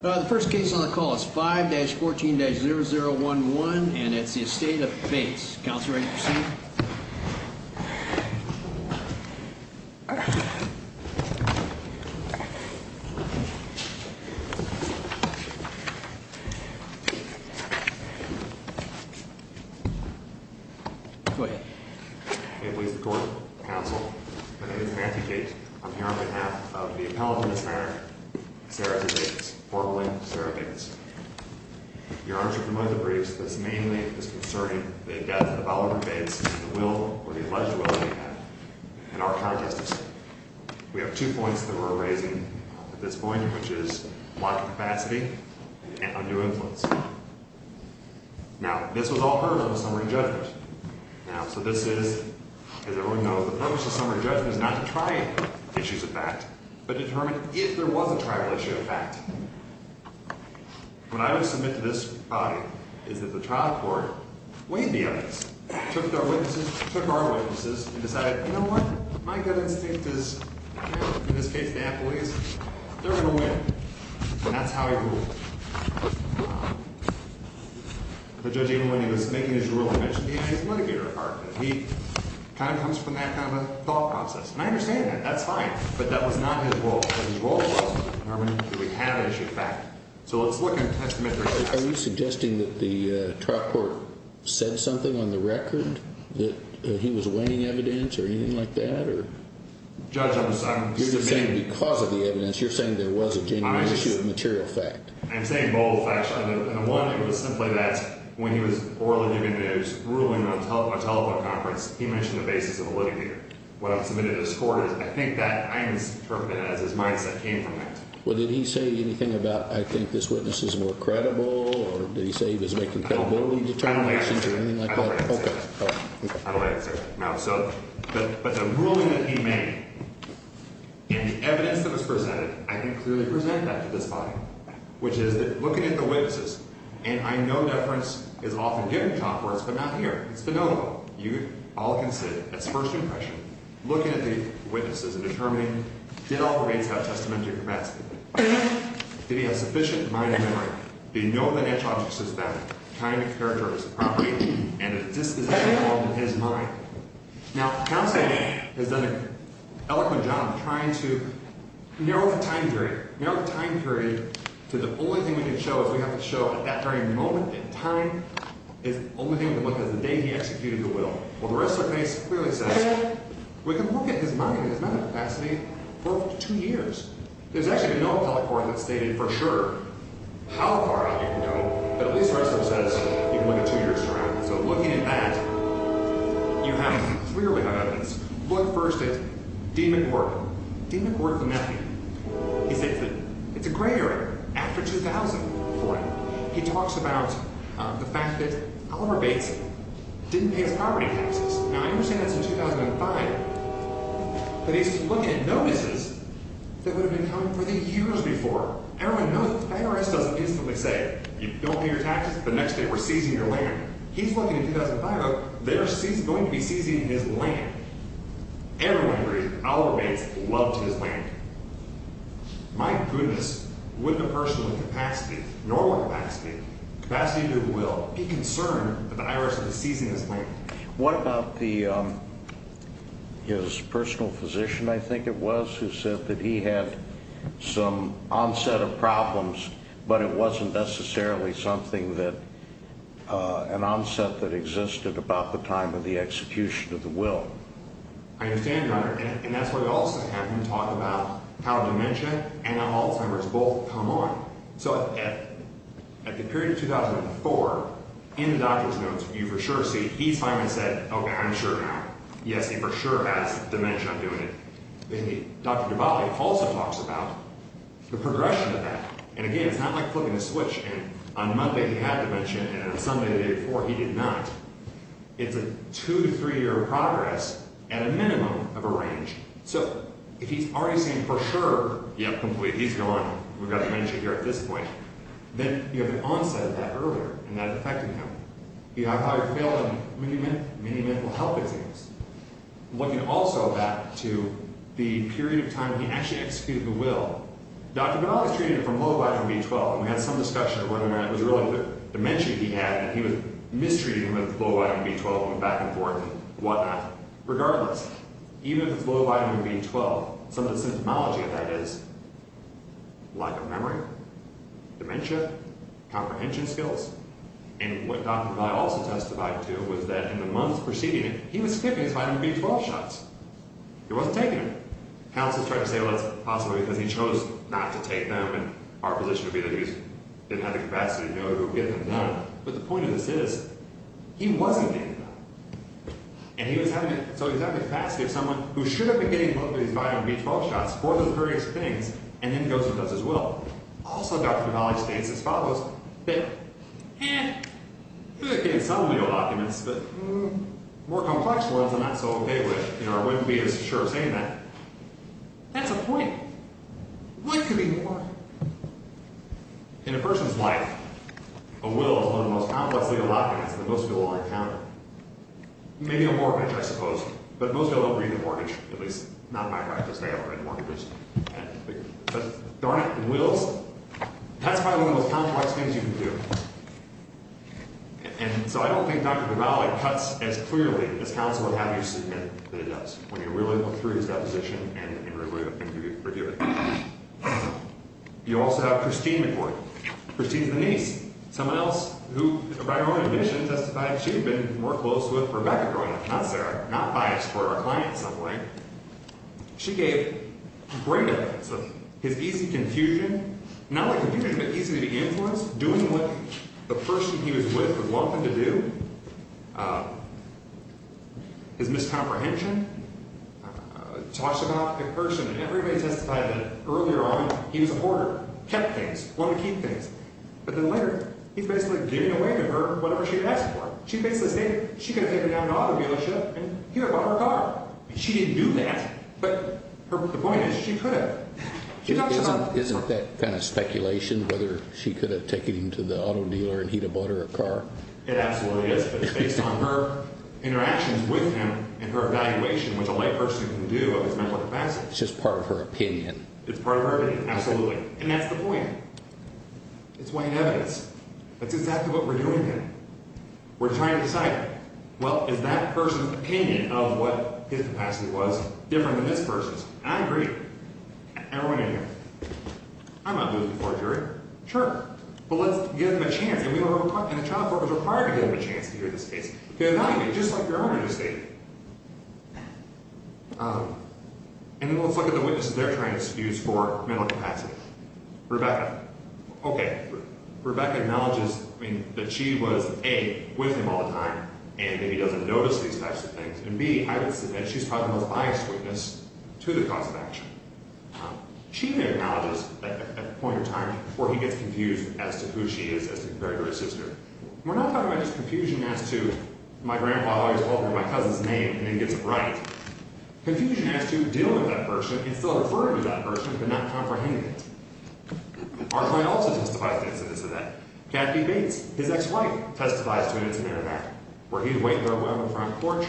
The first case on the call is 5-14-0011, and it's the Estate of Bates. Counselor, I'd like to proceed. Go ahead. Hey, please record, counsel. My name is Matthew Gates. I'm here on behalf of the Bolling, Sarah Bates. Your Honor, you're familiar with the briefs. This mainly is concerning the death of the Bolling, Bates, and the will, or the alleged will, that he had in our context. We have two points that we're raising at this point, which is blocking capacity and undue influence. Now, this was all heard on the summary judgment. Now, so this is, as everyone knows, the purpose of summary judgment is not to try issues of fact, but determine if there was a trial issue of fact. What I would submit to this body is that the trial court weighed the evidence, took our witnesses, and decided, you know what, my gut instinct is, in this case, the employees, they're going to win. And that's how he ruled. The judge, even when he was making his ruling, mentioned he had his litigator apart. He kind of comes from that kind of a thought process. And I understand that. That's fine. But that was not his role. His role was to determine, do we have an issue of fact? So let's look at testamentary facts. Are you suggesting that the trial court said something on the record, that he was weighing evidence, or anything like that, or? Judge, I'm submitting. You're just saying because of the evidence, you're saying there was a genuine issue of material fact. I'm saying both, actually. And the one, it was simply that when he was orally giving his ruling on a telephone conference, he mentioned the basis of a litigator. What I interpreted as his mindset came from that. Well, did he say anything about, I think this witness is more credible, or did he say he was making credibility determinations, or anything like that? I don't answer that. Okay. I don't answer that. But the ruling that he made, and the evidence that was presented, I can clearly present that to this body. Which is that, looking at the witnesses, and I know deference is often given in trial courts, but not here. It's phenomenal. You all can sit, that's first impression, looking at the case, and did all the reads have testamentary capacity? Did he have sufficient mind and memory? Did he know the natural object system, time and character as a property, and did this exist at all in his mind? Now, counsel has done an eloquent job of trying to narrow the time period, narrow the time period to the only thing we can show is we have to show at that very moment in time is the only thing we can look at is the day he executed the murder. The Ressler case clearly says we can look at his mind and his mental capacity for two years. There's actually been no appellate court that's stated for sure how far out you can go, but at least Ressler says you can look at two years' time. So looking at that, you have clearly enough evidence. Look first at D. McWorthy. D. McWorthy, the nephew, he says that it's a gray area, after 2000. He talks about the fact that Oliver Bates didn't pay his property taxes. Now, I understand that's in 2005, but he's looking at notices that would have been coming for the years before. Everyone knows that the IRS doesn't instantly say, you don't pay your taxes the next day we're seizing your land. He's looking at 2005, they're going to be seizing his land. Everyone agrees Oliver Bates loved his land. My goodness, would the person with capacity, normal capacity, capacity to do the will, be concerned that the IRS is seizing his land? What about his personal physician, I think it was, who said that he had some onset of problems, but it wasn't necessarily something that, an onset that existed about the time of the execution of the will? I understand, Your Honor, and that's why we also have him talk about how dementia and Alzheimer's both come on. At the period of 2004, in the doctor's notes, you for sure see, he's finally said, okay, I'm sure now. Yes, he for sure has dementia, I'm doing it. Dr. Duvall also talks about the progression of that. Again, it's not like flipping a switch, and on Monday he had dementia, and on Sunday, the day before, he did not. It's a two to three year progress, at a minimum of a range. So, if he's already saying for sure, yep, complete, he's gone, we've got dementia here at this point, then you have an onset of that earlier, and that affected him. He had higher failure than many mental health exams. Looking also back to the period of time when he actually executed the will, Dr. Duvall was treated from Lovi and B-12, and we had some discussion about it, it was really dementia he had, and he was mistreating him with Lovi and B-12, and back and forth, and whatnot. Regardless, even if it's Lovi and B-12, some of the symptomology of that is lack of memory, dementia, comprehension skills, and what Dr. Duvall also testified to was that in the months preceding it, he was taking his Lovi and B-12 shots. He wasn't taking them. Counsel tried to say, well, it's possible because he chose not to take them, and our position would be that he didn't have the capacity to know who would get them done, but the point of this is, he wasn't taking them. And he was having, so he was having the capacity of someone who should have been getting both of his Lovi and B-12 shots for those various things, and then goes and does his will. Also, Dr. Duvall states as follows, that, eh, he was getting some legal documents, but more complex ones I'm not so okay with. I wouldn't be as sure of saying that. That's a point. What could be more? In a person's life, a will is one of the most complex legal documents that most people will encounter. Maybe a mortgage, I suppose, but most people don't read the mortgage, at least not in my practice. I haven't read mortgages. But darn it, wills? That's probably one of the most complex things you can do. And so I don't think Dr. Duvall cuts as clearly as counsel would have you when you really look through his deposition and review it. You also have Christine McCoy. Christine's the niece. Someone else who, by her own admission, testified she had been more close with Rebecca growing up, not Sarah, not biased toward our client in some way. She gave great evidence of his easy confusion. Not only confusion, but easy to be influenced, doing what the person he was with wanted to do. His miscomprehension. Talks about the person, and everybody testified that earlier on he was a hoarder, kept things, wanted to keep things. But then later, he's basically giving away to her whatever she asked for. She basically stated she could have taken him down to an auto dealership and he would have bought her a car. She didn't do that, but the point is she could have. Isn't that kind of speculation, whether she could have taken him to the auto dealer and he would have bought her a car? It absolutely is, but it's based on her interactions with him and her evaluation, which a layperson can do of his mental capacity. It's just part of her opinion. It's part of her opinion, absolutely. And that's the point. It's white evidence. That's exactly what we're doing here. We're trying to decide, well, is that person's opinion of what his capacity was different than this person's? I agree. Everyone in here. I'm not doing this before a jury. Sure. But let's give him a chance. And the trial court was required to give him a chance to hear this case, to evaluate, just like your owner just stated. And then let's look at the witnesses they're trying to excuse for mental capacity. Rebecca. Okay. She's probably the most biased witness to the cause of action. She acknowledges at a point in time where he gets confused as to who she is as compared to her sister. We're not talking about just confusion as to my grandpa always altering my cousin's name and then gets it right. Confusion as to dealing with that person and still referring to that person but not comprehending it. Our client also testifies to incidents of that. Kathy Bates, his ex-wife, testifies to an incident of that, where he's waiting on the front porch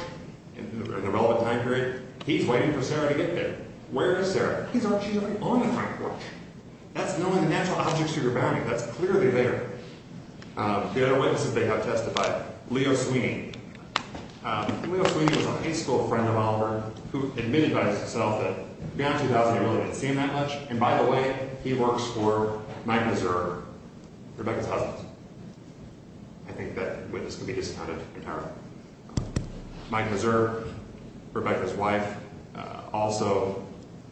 in the relevant time period. He's waiting for Sarah to get there. Where is Sarah? He's actually on the front porch. That's knowing the natural objects you're bounding. That's clearly there. The other witnesses they have testified. Leo Sweeney. Leo Sweeney was a high school friend of Oliver who admitted by himself that in 2009-2000 he really didn't see him that much. And by the way, he works for Mike Mazur, Rebecca's husband. I think that witness can be discounted entirely. Mike Mazur, Rebecca's wife, also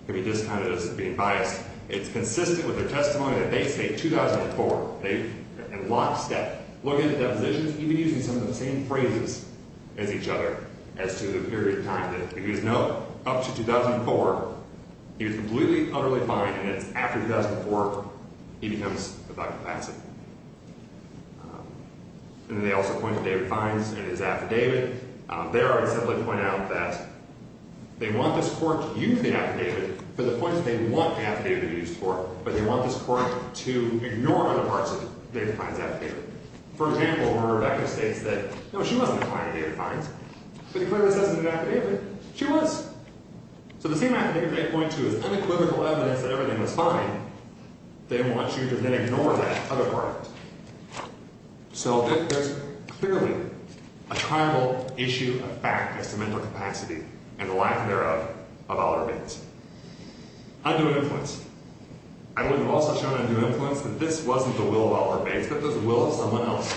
can be discounted as being biased. It's consistent with their testimony that they say 2004. They, in lockstep, look into depositions even using some of the same He was completely, utterly fine and it's after 2004 he becomes a doctor of medicine. And they also point to David Fiennes and his affidavit. There I simply point out that they want this court to use the affidavit for the point that they want the affidavit to be used for. But they want this court to ignore other parts of David Fiennes' affidavit. For example, where Rebecca states that No, she wasn't a client of David Fiennes. But he clearly says in the affidavit, she was. So the same affidavit they point to is unequivocal evidence that everything was fine. They want you to then ignore that other part of it. So there's clearly a tribal issue, a fact as to mental capacity and the lack thereof of Oliver Bates. Undue influence. I would have also shown undue influence that this wasn't the will of Oliver Bates, but the will of someone else.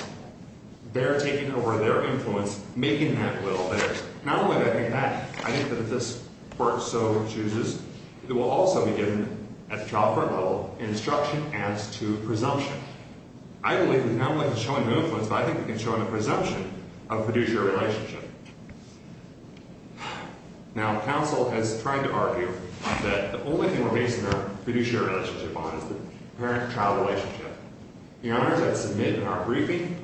They're taking over their influence, making that will theirs. Not only that, I think that if this court so chooses, it will also be given at the child court level instruction as to presumption. I believe we can not only show undue influence, but I think we can show a presumption of fiduciary relationship. Now, counsel has tried to argue that the only thing we're basing our fiduciary relationship on is the parent-child relationship. Your Honor, as I've submitted in our briefing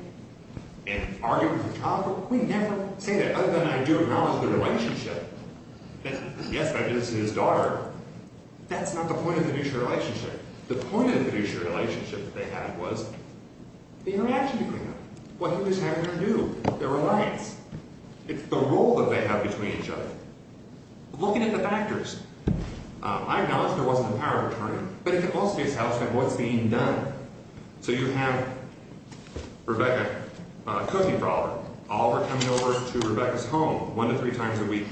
and argued with the child court, we never say that, other than I do acknowledge the relationship. Yes, but I didn't see his daughter. That's not the point of the fiduciary relationship. The point of the fiduciary relationship that they had was the interaction between them, what he was having her do, their reliance. It's the role that they have between each other. Looking at the factors, I acknowledge there wasn't a power of attorney, but it can also be a status of what's being done. So you have Rebecca cooking for Oliver. Oliver coming over to Rebecca's home one to three times a week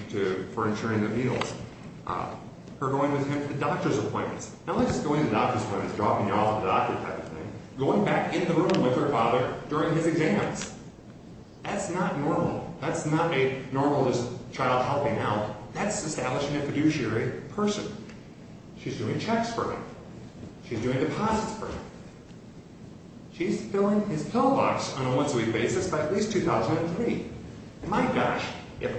for insuring the meals. Her going with him to the doctor's appointments. Not only is she going to the doctor's appointments, dropping you off at the doctor's type of thing, going back in the room with her father during his exams. That's not normal. That's not a normal child helping out. That's establishing a fiduciary person. She's doing checks for him. She's doing deposits for him. She's filling his pillbox on a once-a-week basis by at least 2003. My gosh, if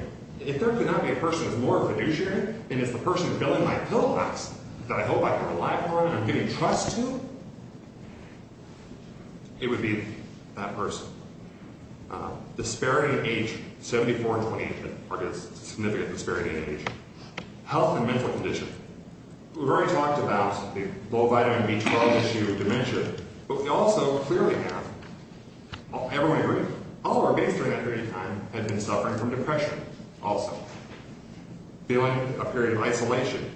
there could not be a person who's more fiduciary than is the person filling my pillbox that I hope I can rely upon and I'm giving trust to, it would be that person. Disparity in age, 74 in 2018. I guess it's a significant disparity in age. Health and mental condition. We've already talked about the low vitamin B12 issue of dementia, but we also clearly have, everyone agrees, Oliver, based on that period of time, had been suffering from depression also. Feeling a period of isolation.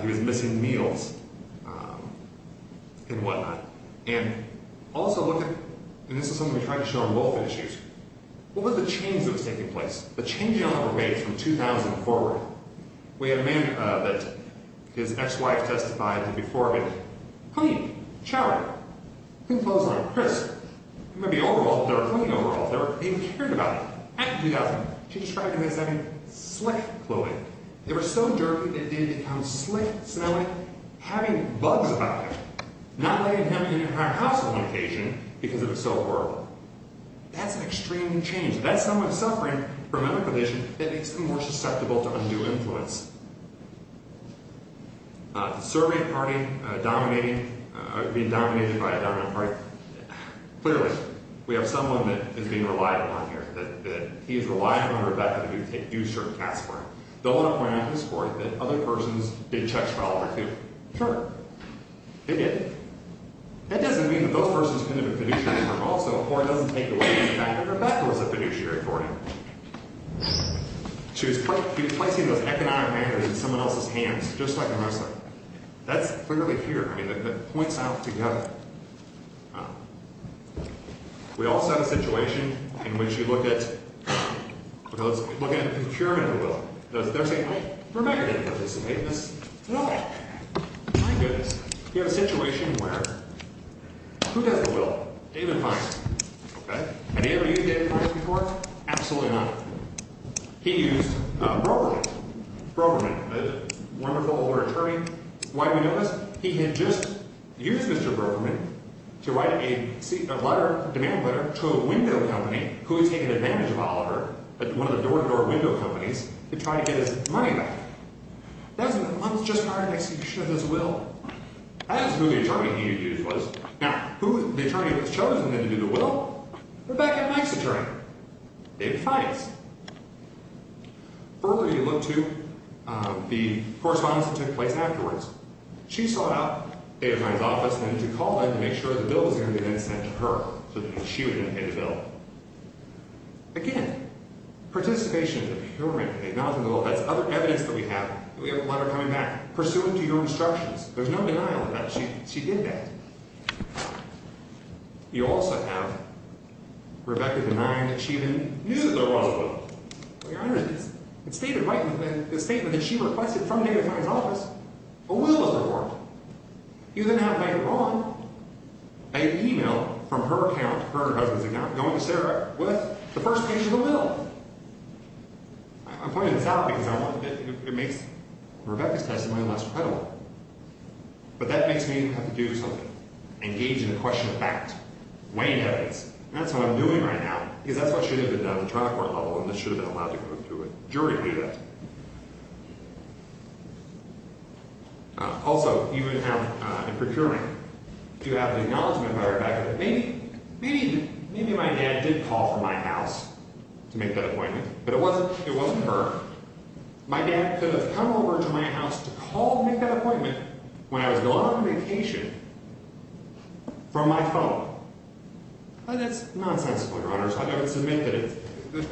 He was missing meals and whatnot. This is something we tried to show on both issues. What was the change that was taking place? The change in Oliver made from 2000 forward. We had a man that his ex-wife testified to before him. Clean, showering, clean clothes weren't crisp. They were clean overall. They weren't even cared about. Back in 2000, she described him as having slick clothing. They were so dirty that it did become slick smelling, having bugs about it. Not letting him in her house on occasion because it was so horrible. That's an extreme change. That's someone suffering from a mental condition that makes them more susceptible to undue influence. Serving a party, dominating, being dominated by a dominant party. Clearly, we have someone that is being relied upon here, that he is relying on Rebecca to do certain tasks for him. They'll want to point out to this court that other persons did checks for Oliver, too. Sure, they did. That doesn't mean that those persons couldn't have been fiduciaries for him also, or it doesn't take away the fact that Rebecca was a fiduciary for him. She was placing those economic matters in someone else's hands, just like a Muslim. That's clearly here. I mean, it points out together. We also have a situation in which you look at, They're saying, hey, Rebecca didn't do this. No. My goodness. You have a situation where, who does the will? David Feinstein. Have you ever used David Feinstein before? Absolutely not. He used Brokerman. Brokerman, a wonderful older attorney. Why do we know this? He had just used Mr. Brokerman to write a demand letter to a window company who had taken advantage of Oliver at one of the door-to-door window companies to try to get his money back. That was just prior to the execution of his will. That is who the attorney he had used was. Now, who the attorney had chosen then to do the will? Rebecca Knight's attorney. David Feinstein. Further, you look to the correspondence that took place afterwards. She sought out David Feinstein's office, to make sure the bill was going to be then sent to her so that she would then pay the bill. Again, participation in the procurement, acknowledging the will, that's other evidence that we have. We have a letter coming back, pursuant to your instructions. There's no denial of that. She did that. You also have Rebecca denying that she even knew there was a will. Your Honor, it stated right in the statement that she requested from David Feinstein's office a will of the court. You then have, if I'm not wrong, an email from her husband's account going to Sarah with the first page of the will. I'm pointing this out because it makes Rebecca's testimony less credible. But that makes me have to do something, engage in a question of fact, weighing evidence. That's what I'm doing right now, because that's what should have been done at the trial court level, and this should have been allowed to go to a jury to do that. Also, you have in procuring, you have the acknowledgement by Rebecca that maybe my dad did call from my house to make that appointment, but it wasn't her. My dad could have come over to my house to call to make that appointment when I was going on vacation from my phone. That's nonsensical, Your Honor.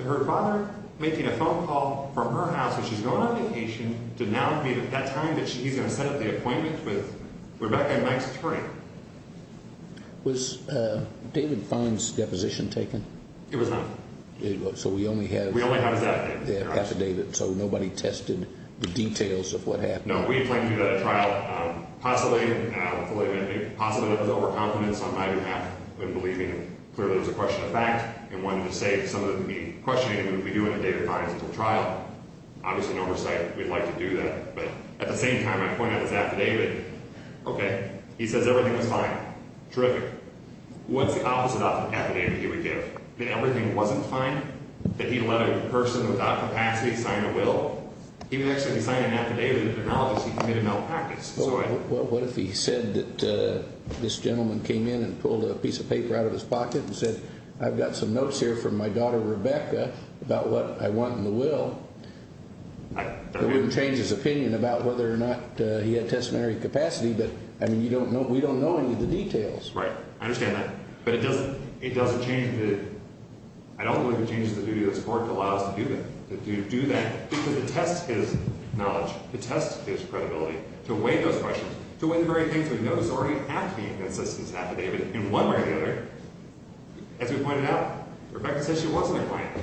Her father making a phone call from her house when she was going on vacation did not meet at that time that he's going to set up the appointment with Rebecca and Mike's attorney. Was David Feinstein's deposition taken? It was not. So we only have his affidavit, so nobody tested the details of what happened? No. We had planned to do that at trial, possibly with overconfidence on my behalf and believing clearly it was a question of fact, and wanted to say some of the questioning that we'd be doing at David Feinstein's trial. Obviously, in oversight, we'd like to do that. But at the same time, I point out his affidavit. Okay. He says everything was fine. Terrific. What's the opposite of the affidavit he would give? That everything wasn't fine? That he let a person without capacity sign a will? He would actually sign an affidavit acknowledging he committed malpractice. Well, what if he said that this gentleman came in and pulled a piece of paper out of his pocket and said, I've got some notes here from my daughter, Rebecca, about what I want in the will? That wouldn't change his opinion about whether or not he had testamentary capacity, but, I mean, you don't know. We don't know any of the details. Right. I understand that. But it doesn't change the ‑‑ I don't believe it changes the duty of the court to allow us to do that, to test his knowledge, to test his credibility, to weigh those questions, to weigh the very things we know already have to be in his affidavit in one way or the other. As we pointed out, Rebecca says she wasn't a client.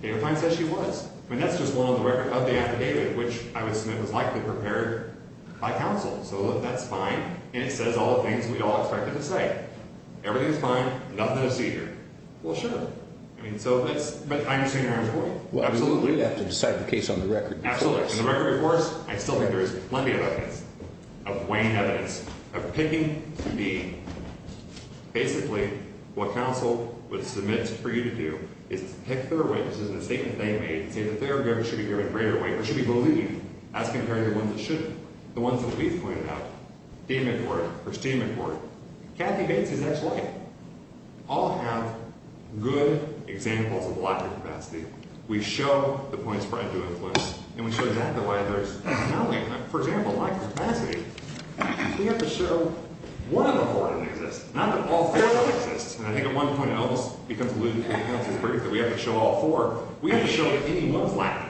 David Feinstein says she was. I mean, that's just one of the affidavits, which I would submit was likely prepared by counsel. So that's fine. And it says all the things we all expected to say. Everything's fine. Nothing to see here. Well, sure. I mean, so that's ‑‑ I understand your point. Well, absolutely. We have to decide the case on the record. Absolutely. On the record, of course, I still think there is plenty of evidence, of weighing evidence, of picking to be. Basically, what counsel would submit for you to do is pick their witness in the statement they made and say that their evidence should be given greater weight or should be believed as compared to the ones that shouldn't, the ones that we've pointed out. Steedman Court. First Steedman Court. Kathy Bates's ex‑wife. All have good examples of lack of capacity. We show the points for undue influence. And we show that the way there is. For example, lack of capacity. We have to show one of the four didn't exist. Not that all four didn't exist. And I think at one point Elvis becomes elusive. We have to show all four. We have to show that anyone's lacking.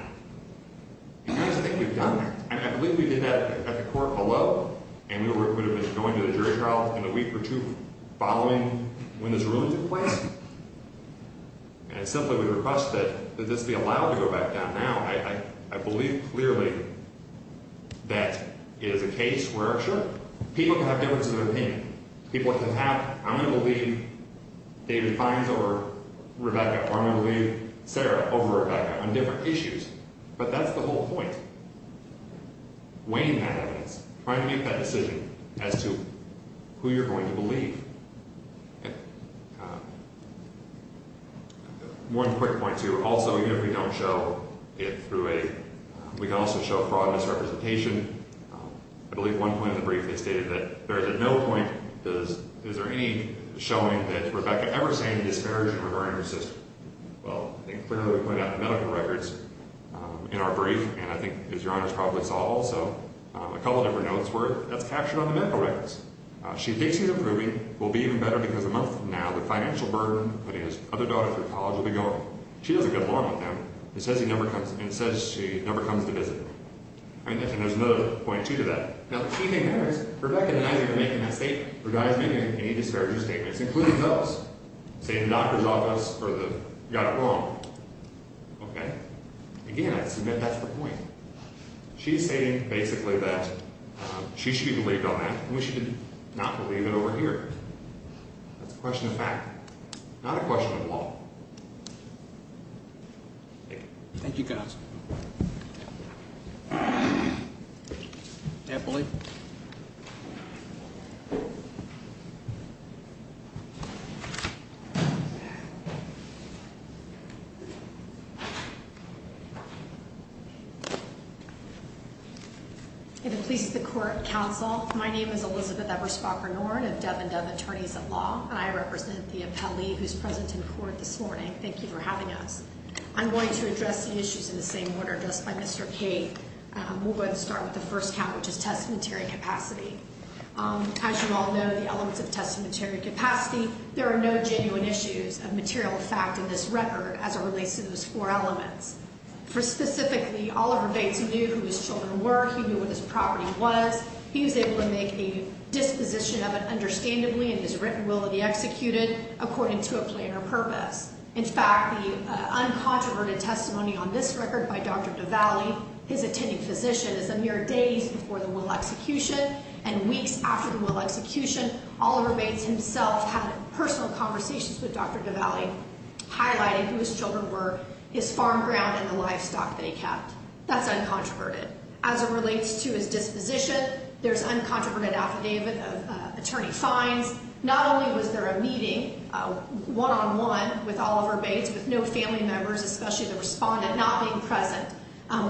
And I just think we've done that. I believe we did that at the court below. And we would have been going to the jury trial in a week or two following when this ruling took place. And I simply would request that this be allowed to go back down now. I believe clearly that it is a case where, sure, people can have differences of opinion. People can have, I'm going to believe David Fines over Rebecca or I'm going to believe Sarah over Rebecca on different issues. But that's the whole point. Weighing that evidence. Trying to make that decision as to who you're going to believe. One quick point, too. Also, even if we don't show it through a, we can also show fraud and misrepresentation. I believe one point in the brief is stated that there is a no point. Is there any showing that Rebecca ever said any disparaging regarding her sister? Well, I think clearly we pointed out the medical records in our brief. And I think, as your honors probably saw also, a couple of different notes were captured on the medical records. She thinks he's improving, will be even better because a month from now, the financial burden of putting his other daughter through college will be gone. She doesn't get along with him and says she never comes to visit him. And there's another point, too, to that. Now, the key thing there is Rebecca and Isaac are making that statement. Her daughter is making any disparaging statements, including those. Saying the doctor's office got it wrong. Okay. Again, I submit that's the point. She's saying basically that she should be believed on that. We should not believe it over here. That's a question of fact, not a question of law. Thank you. Thank you, guys. I believe. Thank you. If it pleases the court and counsel, my name is Elizabeth Eberspacher-Norton of Dub and Dub Attorneys at Law. And I represent the appellee who's present in court this morning. Thank you for having us. I'm going to address the issues in the same order addressed by Mr. Cade. We'll go ahead and start with the first count, which is testamentary capacity. As you all know, the elements of testamentary capacity, there are no genuine issues of material fact in this record as it relates to those four elements. Specifically, Oliver Bates knew who his children were. He knew what his property was. He was able to make a disposition of it understandably in his written will to be executed according to a plan or purpose. In fact, the uncontroverted testimony on this record by Dr. DiValli, his attending physician, is a mere days before the will execution and weeks after the will execution. Oliver Bates himself had personal conversations with Dr. DiValli highlighting who his children were, his farm ground, and the livestock that he kept. That's uncontroverted. As it relates to his disposition, there's uncontroverted affidavit of attorney fines. Not only was there a meeting one-on-one with Oliver Bates with no family members, especially the respondent not being present,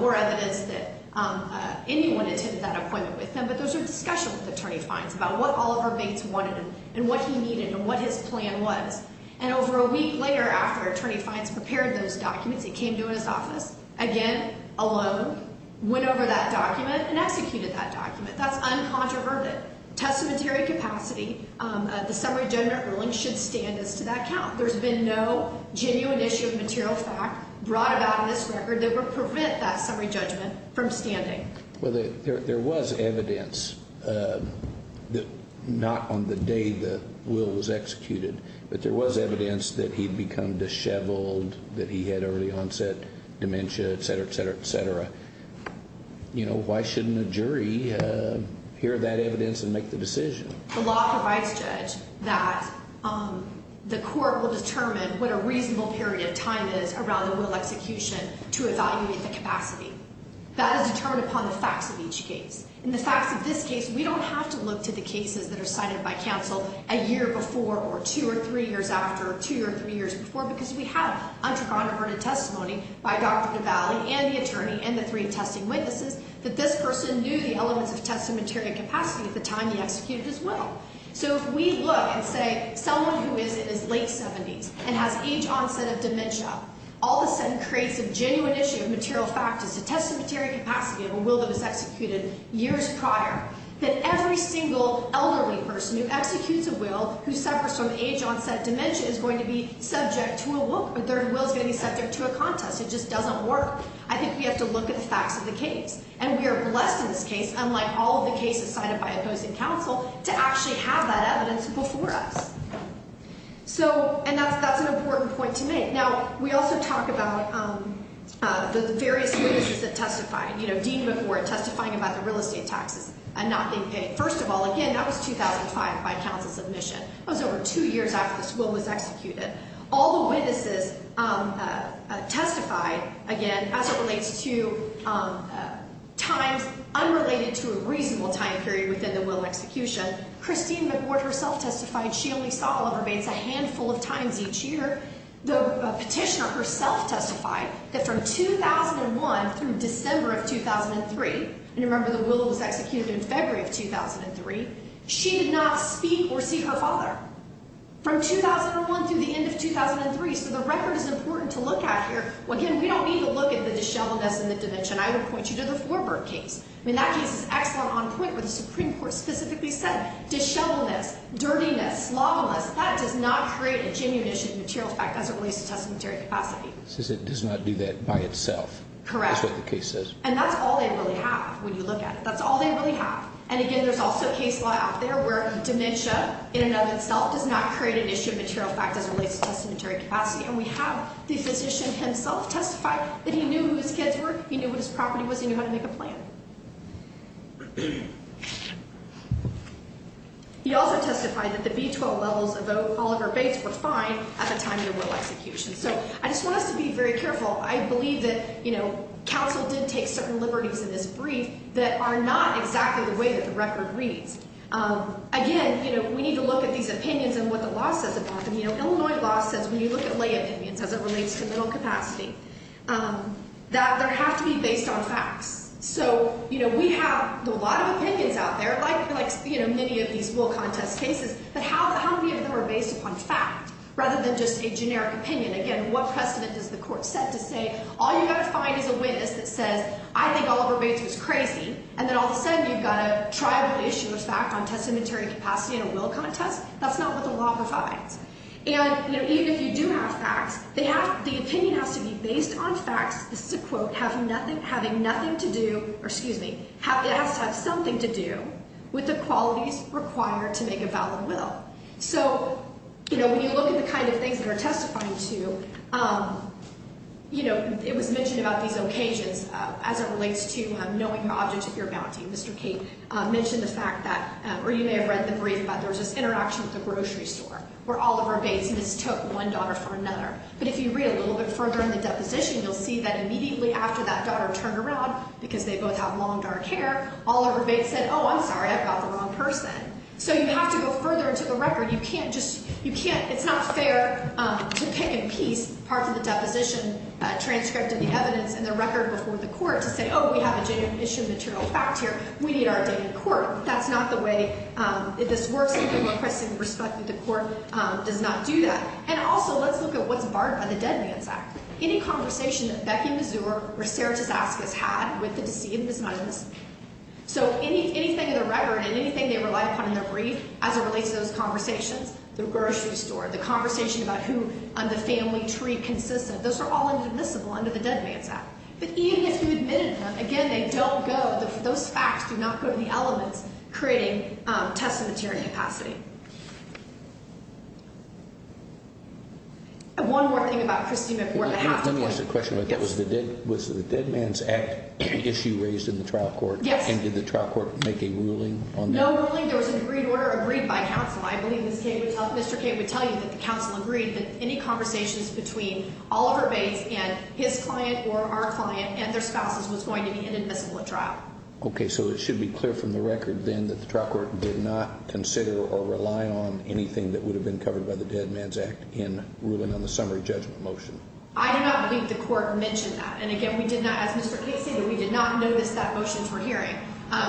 or evidence that anyone attended that appointment with him, but there was a discussion with attorney fines about what Oliver Bates wanted and what he needed and what his plan was. And over a week later after attorney fines prepared those documents, he came to his office again alone, went over that document, and executed that document. That's uncontroverted. Testamentary capacity, the summary judgment ruling should stand as to that count. There's been no genuine issue of material fact brought about in this record that would prevent that summary judgment from standing. Well, there was evidence, not on the day the will was executed, but there was evidence that he'd become disheveled, that he had early onset dementia, et cetera, et cetera, et cetera. Why shouldn't a jury hear that evidence and make the decision? The law provides, Judge, that the court will determine what a reasonable period of time is around the will execution to evaluate the capacity. That is determined upon the facts of each case. In the facts of this case, we don't have to look to the cases that are cited by counsel a year before or two or three years after or two or three years before because we have uncontroverted testimony by Dr. Duvalli and the attorney and the three testing witnesses that this person knew the elements of testamentary capacity at the time he executed his will. So if we look and say someone who is in his late 70s and has age onset of dementia all of a sudden creates a genuine issue of material fact as to testamentary capacity of a will that was executed years prior, then every single elderly person who executes a will who suffers from age onset dementia is going to be subject to a will. Their will is going to be subject to a contest. It just doesn't work. I think we have to look at the facts of the case. And we are blessed in this case, unlike all of the cases cited by opposing counsel, to actually have that evidence before us. And that's an important point to make. Now, we also talk about the various witnesses that testified, you know, Dean McWhort testifying about the real estate taxes and not being paid. First of all, again, that was 2005 by counsel's admission. That was over two years after this will was executed. All the witnesses testified, again, as it relates to times unrelated to a reasonable time period within the will and execution. Christine McWhort herself testified she only saw Oliver Bates a handful of times each year. The petitioner herself testified that from 2001 through December of 2003, and remember the will was executed in February of 2003, she did not speak or see her father from 2001 through the end of 2003. So the record is important to look at here. Again, we don't need to look at the disheveledness and the dementia. And I would point you to the Forbert case. I mean, that case is excellent on point where the Supreme Court specifically said disheveledness, dirtiness, sloppiness, that does not create a genuine issue of material effect as it relates to testamentary capacity. It says it does not do that by itself. Correct. That's what the case says. And that's all they really have when you look at it. That's all they really have. And, again, there's also case law out there where dementia in and of itself does not create an issue of material effect as it relates to testamentary capacity. And we have the physician himself testify that he knew who his kids were, he knew what his property was, he knew how to make a plan. He also testified that the B-12 levels of Oliver Bates were fine at the time of the will execution. So I just want us to be very careful. I believe that, you know, counsel did take certain liberties in this brief that are not exactly the way that the record reads. Again, you know, we need to look at these opinions and what the law says about them. You know, Illinois law says when you look at lay opinions as it relates to middle capacity that there have to be based on facts. So, you know, we have a lot of opinions out there, like, you know, many of these will contest cases, but how many of them are based upon fact rather than just a generic opinion? Again, what precedent does the court set to say all you've got to find is a witness that says I think Oliver Bates was crazy, and then all of a sudden you've got a tribal issue of fact on testamentary capacity in a will contest? That's not what the law provides. And, you know, even if you do have facts, the opinion has to be based on facts, this is a quote, having nothing to do or, excuse me, it has to have something to do with the qualities required to make a valid will. So, you know, when you look at the kind of things that are testifying to, you know, it was mentioned about these occasions as it relates to knowing the object of your bounty. Mr. Cate mentioned the fact that, or you may have read the brief about there was this interaction at the grocery store where Oliver Bates mistook one daughter for another. But if you read a little bit further in the deposition, you'll see that immediately after that daughter turned around, because they both have long, dark hair, Oliver Bates said, oh, I'm sorry, I've got the wrong person. So you have to go further into the record. You can't just, you can't, it's not fair to pick and piece part of the deposition, transcript of the evidence and the record before the court to say, oh, we have a genuine issue of material fact here, we need our data in court. That's not the way this works. I think we're requesting respect that the court does not do that. And also, let's look at what's barred by the Dead Man's Act. Any conversation that Becky Mazur or Sara Tzatzakis had with the deceased and his mother, so anything in the record and anything they relied upon in their brief as it relates to those conversations, the grocery store, the conversation about who on the family tree consists of, those are all inadmissible under the Dead Man's Act. But even if you admitted them, again, they don't go, those facts do not go to the elements creating test of material capacity. One more thing about Christie McCormick. Let me ask a question. Was the Dead Man's Act an issue raised in the trial court? Yes. And did the trial court make a ruling on that? No ruling. There was an agreed order agreed by counsel. I believe Mr. Cate would tell you that the counsel agreed that any conversations between Oliver Bates and his client or our client and their spouses was going to be inadmissible at trial. Okay. So it should be clear from the record then that the trial court did not consider or rely on anything that would have been covered by the Dead Man's Act in ruling on the summary judgment motion. I do not believe the court mentioned that. And, again, we did not, as Mr. Cate stated, we did not notice that motions were hearing.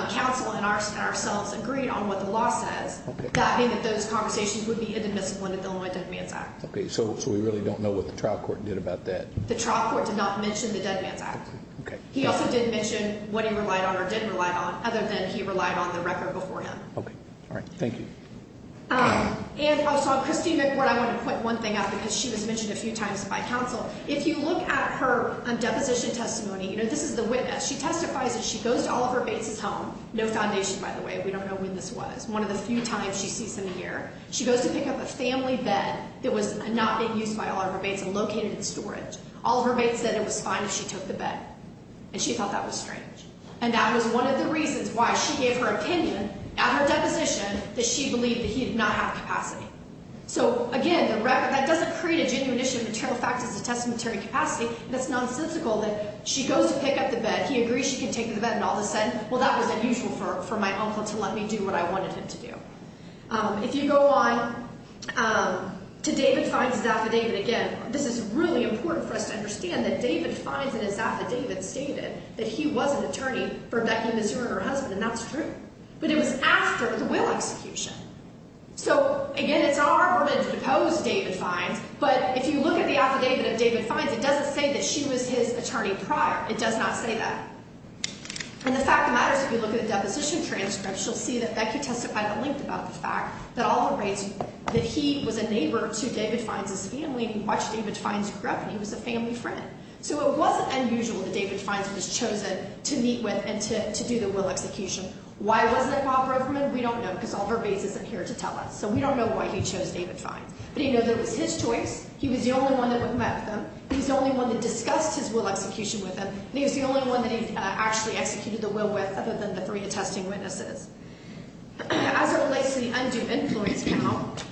Counsel and ourselves agreed on what the law says. That being that those conversations would be inadmissible under the Illinois Dead Man's Act. Okay. So we really don't know what the trial court did about that? The trial court did not mention the Dead Man's Act. Okay. He also didn't mention what he relied on or didn't rely on other than he relied on the record before him. Okay. All right. Thank you. And also on Christie McBorn, I want to point one thing out because she was mentioned a few times by counsel. If you look at her deposition testimony, you know, this is the witness. She testifies that she goes to Oliver Bates' home. No foundation, by the way. We don't know when this was. One of the few times she sees him here. She goes to pick up a family bed that was not being used by Oliver Bates and located in storage. Oliver Bates said it was fine if she took the bed. And she thought that was strange. And that was one of the reasons why she gave her opinion at her deposition that she believed that he did not have capacity. So, again, the record, that doesn't create a genuine issue of material fact as a testamentary capacity. That's nonsensical that she goes to pick up the bed. He agrees she can take the bed. And all of a sudden, well, that was unusual for my uncle to let me do what I wanted him to do. If you go on to David Fines' affidavit again, this is really important for us to understand that David Fines in his affidavit stated that he was an attorney for Becky Missouri, her husband. And that's true. But it was after the will execution. So, again, it's our burden to depose David Fines. But if you look at the affidavit of David Fines, it doesn't say that she was his attorney prior. It does not say that. And the fact of the matter is if you look at the deposition transcript, you'll see that Becky testified at length about the fact that all the rates, that he was a neighbor to David Fines' family. He watched David Fines grow up, and he was a family friend. So it wasn't unusual that David Fines was chosen to meet with and to do the will execution. Why wasn't it Bob Roverman? We don't know because all verbatim isn't here to tell us. So we don't know why he chose David Fines. But he knew that it was his choice. He was the only one that met with him. He was the only one that discussed his will execution with him. And he was the only one that he actually executed the will with other than the three attesting witnesses. As it relates to the undue influence count,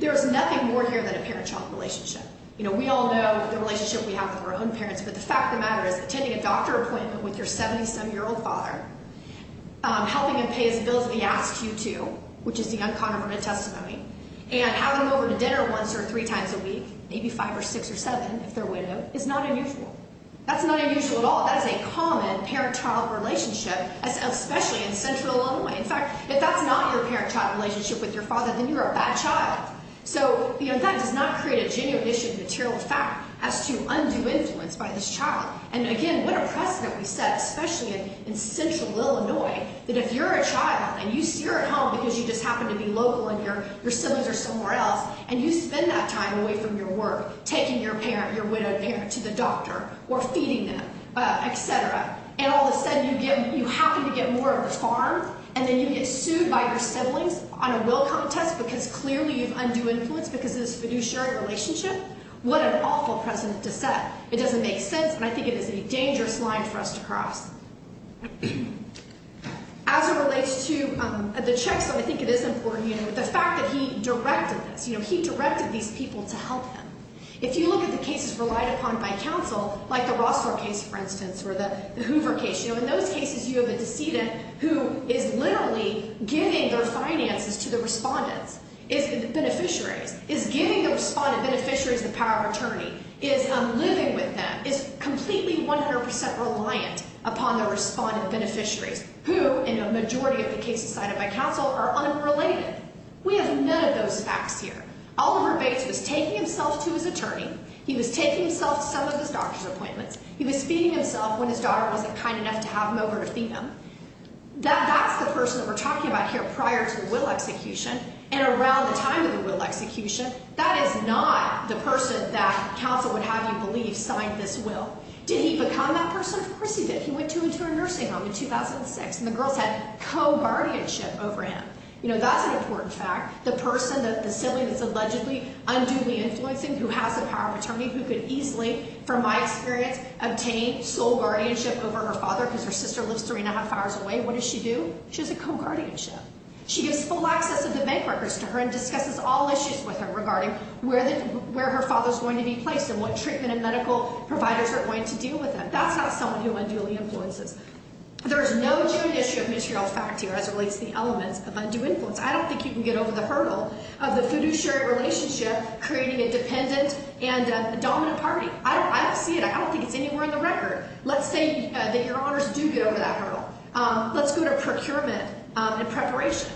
there is nothing more here than a parent-child relationship. You know, we all know the relationship we have with our own parents. But the fact of the matter is attending a doctor appointment with your 77-year-old father, helping him pay his bills that he asked you to, which is the uncontroverted testimony, and having him over to dinner once or three times a week, maybe five or six or seven if they're widowed, is not unusual. That's not unusual at all. That is a common parent-child relationship, especially in central Illinois. In fact, if that's not your parent-child relationship with your father, then you're a bad child. So that does not create a genuine issue of material fact as to undue influence by this child. And, again, what a precedent we set, especially in central Illinois, that if you're a child and you're at home because you just happen to be local and your siblings are somewhere else, and you spend that time away from your work taking your parent, your widowed parent, to the doctor or feeding them, et cetera, and all of a sudden you happen to get more of a charm and then you get sued by your siblings on a will contest because clearly you've undue influence because of this fiduciary relationship, what an awful precedent to set. It doesn't make sense, and I think it is a dangerous line for us to cross. As it relates to the checks, I think it is important, the fact that he directed this. He directed these people to help him. If you look at the cases relied upon by counsel, like the Rossler case, for instance, or the Hoover case, in those cases you have a decedent who is literally giving their finances to the respondents, beneficiaries, is giving the respondent beneficiaries the power of attorney, is living with them, is completely 100% reliant upon the respondent beneficiaries, who in a majority of the cases cited by counsel are unrelated. We have none of those facts here. Oliver Bates was taking himself to his attorney. He was taking himself to some of his doctor's appointments. He was feeding himself when his daughter wasn't kind enough to have him over to feed them. That's the person that we're talking about here prior to the will execution and around the time of the will execution. That is not the person that counsel would have you believe signed this will. Did he become that person? Of course he did. He went to a nursing home in 2006, and the girls had co-guardianship over him. You know, that's an important fact. The person, the sibling that's allegedly unduly influencing, who has the power of attorney, who could easily, from my experience, obtain sole guardianship over her father because her sister lives three and a half hours away. What does she do? She has a co-guardianship. She gives full access of the bank records to her and discusses all issues with her regarding where her father is going to be placed and what treatment and medical providers are going to deal with him. That's not someone who unduly influences. There is no true history of material fact here as it relates to the elements of undue influence. I don't think you can get over the hurdle of the fiduciary relationship creating a dependent and a dominant party. I don't see it. I don't think it's anywhere in the record. Let's say that your honors do get over that hurdle. Let's go to procurement and preparation.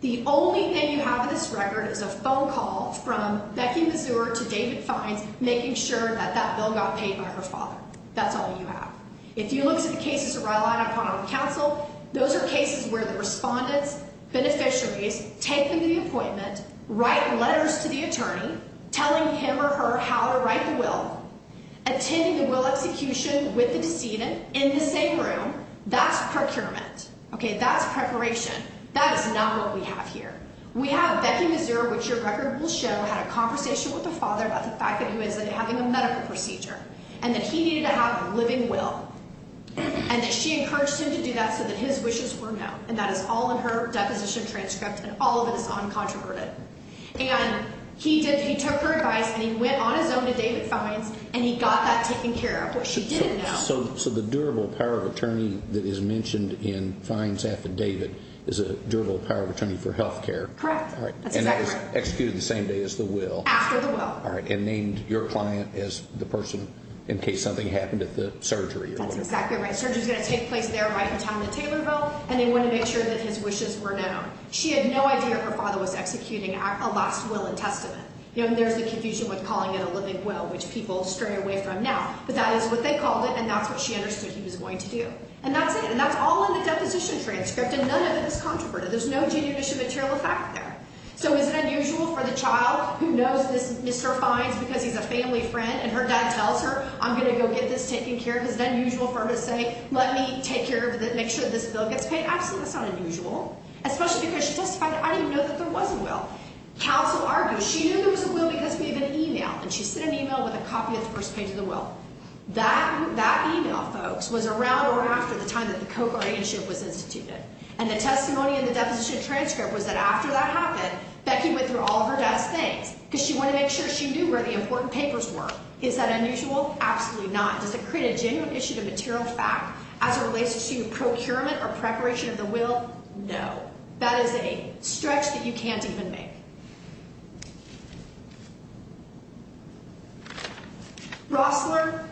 The only thing you have in this record is a phone call from Becky Mazur to David Fines making sure that that bill got paid by her father. That's all you have. If you look at the cases relied upon on counsel, those are cases where the respondents, beneficiaries, take them to the appointment, write letters to the attorney telling him or her how to write the will, attending the will execution with the decedent in the same room. That's procurement. Okay, that's preparation. That is not what we have here. We have Becky Mazur, which your record will show, had a conversation with her father about the fact that he was having a medical procedure and that he needed to have a living will and that she encouraged him to do that so that his wishes were known, and that is all in her deposition transcript and all of it is uncontroverted. And he took her advice and he went on his own to David Fines and he got that taken care of, which she didn't know. So the durable power of attorney that is mentioned in Fines' affidavit is a durable power of attorney for health care. Correct. And that is executed the same day as the will. After the will. All right, and named your client as the person in case something happened at the surgery or whatever. That's exactly right. Surgery is going to take place there right in time at the Taylorville, and they want to make sure that his wishes were known. She had no idea her father was executing a lost will and testament. There's the confusion with calling it a living will, which people stray away from now, but that is what they called it and that's what she understood he was going to do. And that's it, and that's all in the deposition transcript, and none of it is controverted. There's no judicial material fact there. So is it unusual for the child who knows this Mr. Fines because he's a family friend and her dad tells her, I'm going to go get this taken care of, is it unusual for her to say, let me take care of it, make sure this bill gets paid? Absolutely, that's not unusual, especially because she testified that I didn't even know that there was a will. Counsel argues, she knew there was a will because we have an email, and she sent an email with a copy of the first page of the will. That email, folks, was around or after the time that the co-guardianship was instituted. And the testimony in the deposition transcript was that after that happened, Becky went through all of her dad's things because she wanted to make sure she knew where the important papers were. Is that unusual? Absolutely not. Does it create a genuine issue to material fact as it relates to procurement or preparation of the will? No. That is a stretch that you can't even make. Rossler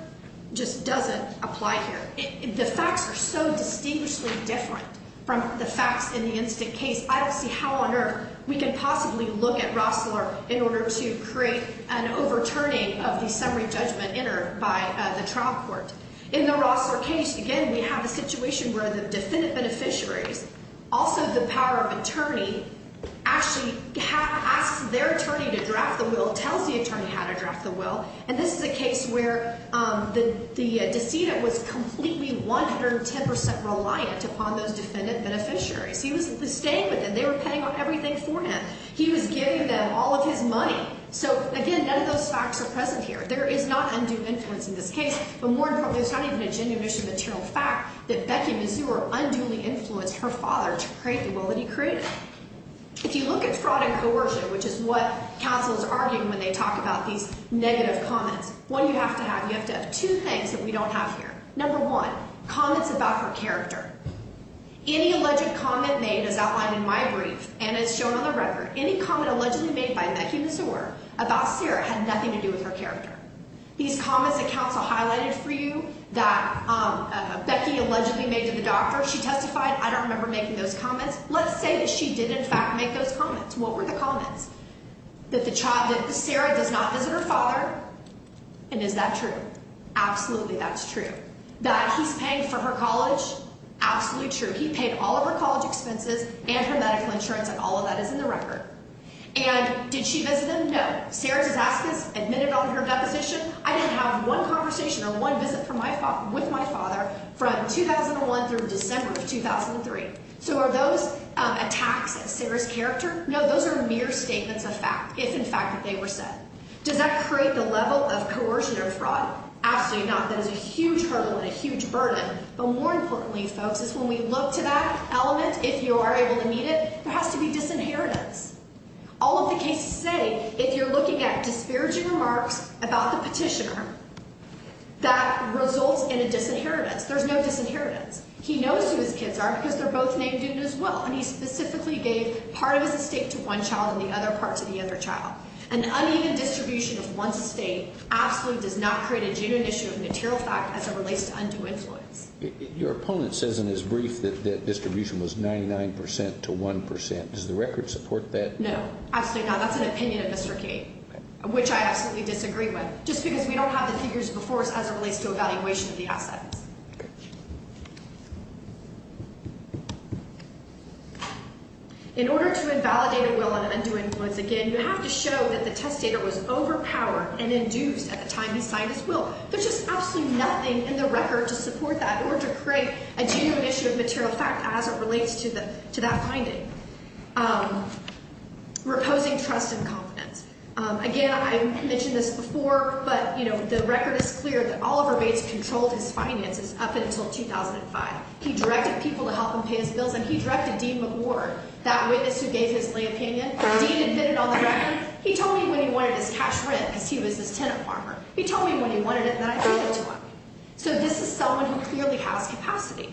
just doesn't apply here. The facts are so distinguishedly different from the facts in the instant case. I don't see how on earth we can possibly look at Rossler in order to create an overturning of the summary judgment entered by the trial court. In the Rossler case, again, we have a situation where the defendant beneficiaries, also the power of attorney, actually asks their attorney to draft the will, tells the attorney how to draft the will. And this is a case where the decedent was completely 110 percent reliant upon those defendant beneficiaries. He was staying with them. They were paying everything for him. He was giving them all of his money. So, again, none of those facts are present here. There is not undue influence in this case, but more importantly, it's not even a genuine issue of material fact that Becky Mazur unduly influenced her father to create the will that he created. If you look at fraud and coercion, which is what counsel is arguing when they talk about these negative comments, what you have to have, you have to have two things that we don't have here. Number one, comments about her character. Any alleged comment made, as outlined in my brief and as shown on the record, any comment allegedly made by Becky Mazur about Sarah had nothing to do with her character. These comments that counsel highlighted for you that Becky allegedly made to the doctor, she testified. I don't remember making those comments. Let's say that she did, in fact, make those comments. What were the comments? That Sarah does not visit her father. And is that true? Absolutely, that's true. That he's paying for her college? Absolutely true. He paid all of her college expenses and her medical insurance, and all of that is in the record. And did she visit him? No. Sarah Dizaskis admitted on her deposition, I didn't have one conversation or one visit with my father from 2001 through December of 2003. So are those attacks at Sarah's character? No, those are mere statements of fact, if in fact they were said. Does that create the level of coercion or fraud? Absolutely not. That is a huge hurdle and a huge burden. But more importantly, folks, is when we look to that element, if you are able to meet it, there has to be disinheritance. All of the cases say, if you're looking at disparaging remarks about the petitioner, that results in a disinheritance. There's no disinheritance. He knows who his kids are because they're both named Dutton as well, and he specifically gave part of his estate to one child and the other part to the other child. An uneven distribution of one estate absolutely does not create a genuine issue of material fact as it relates to undue influence. Your opponent says in his brief that distribution was 99 percent to 1 percent. Does the record support that? No. Absolutely not. That's an opinion of Mr. Kate, which I absolutely disagree with, just because we don't have the figures before us as it relates to evaluation of the assets. Okay. In order to invalidate a will on undue influence, again, you have to show that the testator was overpowered and induced at the time he signed his will. There's just absolutely nothing in the record to support that or to create a genuine issue of material fact as it relates to that finding. Reposing trust and confidence. Again, I mentioned this before, but, you know, the record is clear that Oliver Bates controlled his finances up until 2005. He directed people to help him pay his bills, and he directed Dean McWhorter, that witness who gave his lay opinion. Dean admitted on the record, he told me when he wanted his cash rent because he was his tenant farmer. He told me when he wanted it, and then I gave it to him. So this is someone who clearly has capacity.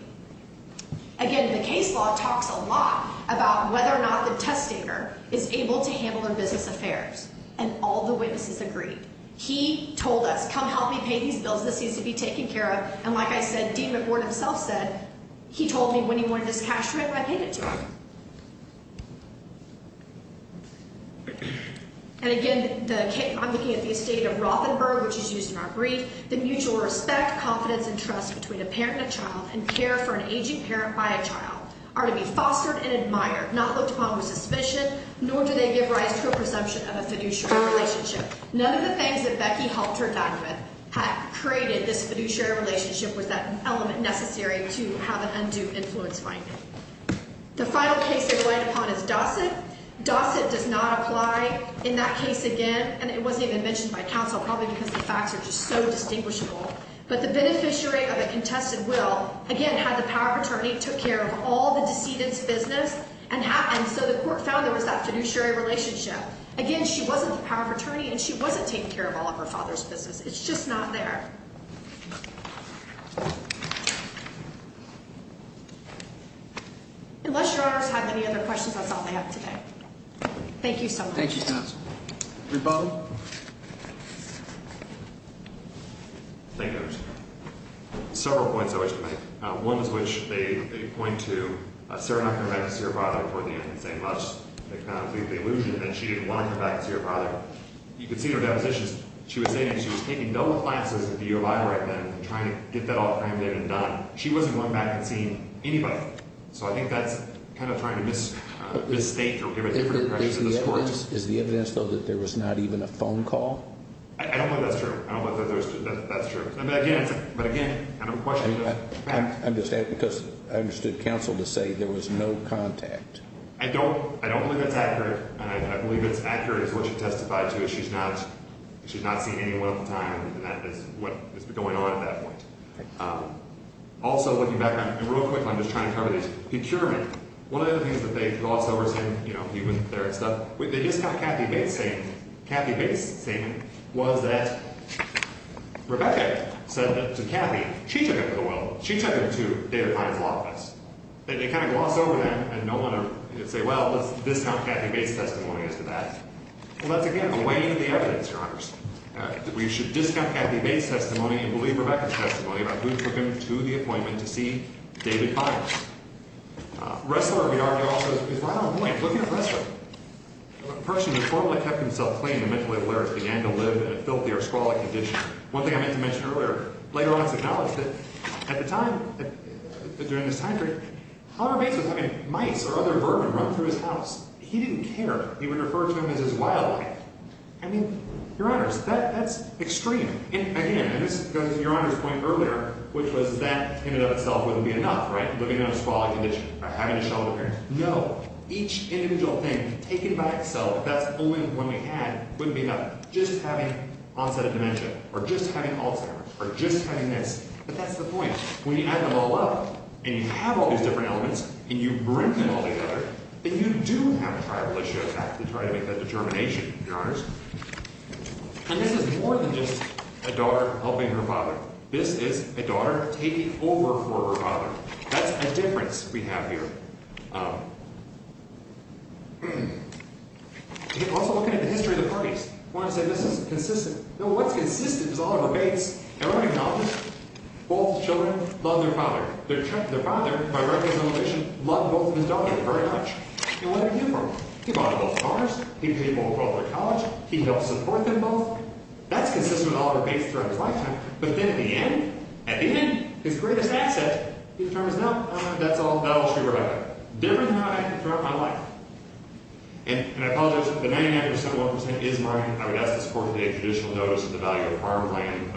Again, the case law talks a lot about whether or not the testator is able to handle their business affairs, and all the witnesses agreed. He told us, come help me pay these bills. This needs to be taken care of, and like I said, Dean McWhorter himself said, he told me when he wanted his cash rent, and I paid it to him. And again, I'm looking at the estate of Rothenberg, which is used in our brief. The mutual respect, confidence, and trust between a parent and a child and care for an aging parent by a child are to be fostered and admired, not looked upon with suspicion, nor do they give rise to a presumption of a fiduciary relationship. None of the things that Becky helped her down with had created this fiduciary relationship with that element necessary to have an undue influence finding. The final case they relied upon is Dossett. Dossett does not apply in that case again, and it wasn't even mentioned by counsel, probably because the facts are just so distinguishable. But the beneficiary of a contested will, again, had the power of attorney, took care of all the decedent's business, and so the court found there was that fiduciary relationship. Again, she wasn't the power of attorney, and she wasn't taking care of all of her father's business. It's just not there. Unless your honors have any other questions, that's all I have today. Thank you so much. Thank you, counsel. Rebuttal. Thank you, Your Honor. Several points I wish to make. One is which they point to Sarah not coming back to see her father toward the end and saying, well, that's kind of a complete delusion, and she didn't want to come back to see her father. You can see in her depositions, she was saying that she was taking double classes at the U of I, and trying to get that all crammed in and done. She wasn't going back and seeing anybody. So I think that's kind of trying to misstate or give a different impression to this court. Is the evidence, though, that there was not even a phone call? I don't know if that's true. I don't know if that's true. But, again, I'm questioning the fact. I'm just asking because I understood counsel to say there was no contact. I don't believe that's accurate, and I believe it's accurate, is what she testified to, but she's not seeing anyone at the time, and that is what is going on at that point. Also, looking back on it, and real quick, I'm just trying to cover this. Procurement. One of the other things that they gloss over is saying, you know, he went there and stuff. They discount Kathy Bates' statement. Kathy Bates' statement was that Rebecca said that to Kathy. She took it to the world. She took it to David Heine's law office. They kind of gloss over that, and no one would say, well, let's discount Kathy Bates' testimony as to that. Well, that's, again, a weighing of the evidence, Your Honors. We should discount Kathy Bates' testimony and believe Rebecca's testimony about who took him to the appointment to see David Heine. Ressler, we argue also, is right on point. Look at Ressler. A person who formally kept himself clean and mentally aware as he began to live in a filthy or squalid condition. One thing I meant to mention earlier, later on it's acknowledged that at the time, during this time period, Conor Bates was having mice or other vermin run through his house. He didn't care. He would refer to them as his wildlife. I mean, Your Honors, that's extreme. And, again, and this goes to Your Honor's point earlier, which was that in and of itself wouldn't be enough, right, living in a squalid condition or having a show of appearance. No. Each individual thing taken by itself, if that's the only one we had, wouldn't be enough. Just having onset of dementia or just having Alzheimer's or just having this. But that's the point. When you add them all up and you have all these different elements and you bring them all together, then you do have a tribal issue to try to make that determination, Your Honors. And this is more than just a daughter helping her father. This is a daughter taking over for her father. That's a difference we have here. Also, look at the history of the parties. One would say this is consistent. No, what's consistent is all of Bates. Everybody acknowledges both children love their father. Their father, by right of revelation, loved both of his daughters very much. And what did he do for them? He bought them both cars. He paid for both their college. He helped support them both. That's consistent with all of Bates throughout his lifetime. But then in the end, at the end, his greatest asset, he determines, no, that's all true right now. Different than I have throughout my life. And I apologize, but 99.71% is mine. I would ask to support the judicial notice of the value of farmland.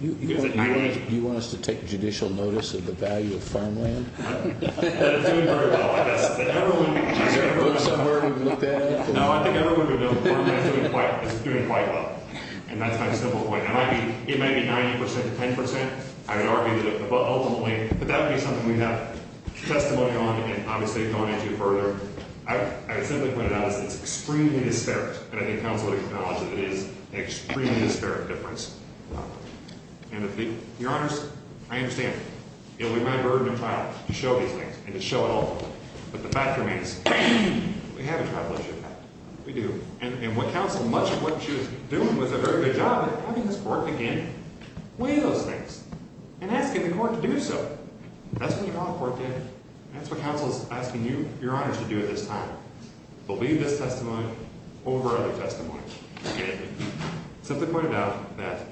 You want us to take judicial notice of the value of farmland? It's doing very well. Is there a book somewhere we can look at it? No, I think everyone knows farmland is doing quite well. And that's my simple point. It might be 90% to 10%. I would argue that ultimately. But that would be something we have testimony on and obviously going into further. I simply put it out as it's extremely disparate. And I think counsel would acknowledge that it is an extremely disparate difference. And your honors, I understand. It would be my burden to try to show these things and to show it all. But the fact remains, we have a tribal issue. We do. And what counsel, much of what she was doing was a very good job at having this court begin weighing those things. And asking the court to do so. That's what you want the court to do. And that's what counsel is asking you, your honors, to do at this time. Believe this testimony over other testimony. Simply put it out that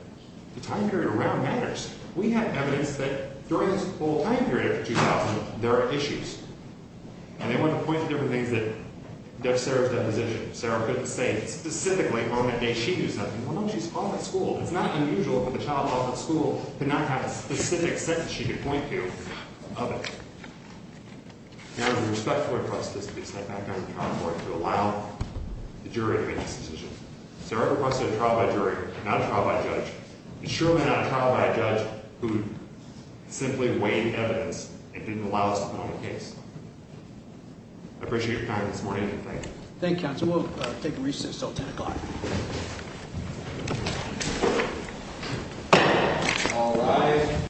the time period around matters. We have evidence that during this whole time period after 2000, there are issues. And they want to point to different things that Sarah's deposition. Sarah couldn't say specifically on that day she knew something. It's not unusual for the child at school to not have a specific sentence she could point to of it. And I respectfully request this to be sent back down to the trial court to allow the jury to make this decision. Sarah requested a trial by jury, not a trial by judge. And surely not a trial by a judge who simply weighed evidence and didn't allow us to put on a case. I appreciate your time this morning and thank you. Thank you, counsel. We will take recess until 10 o'clock.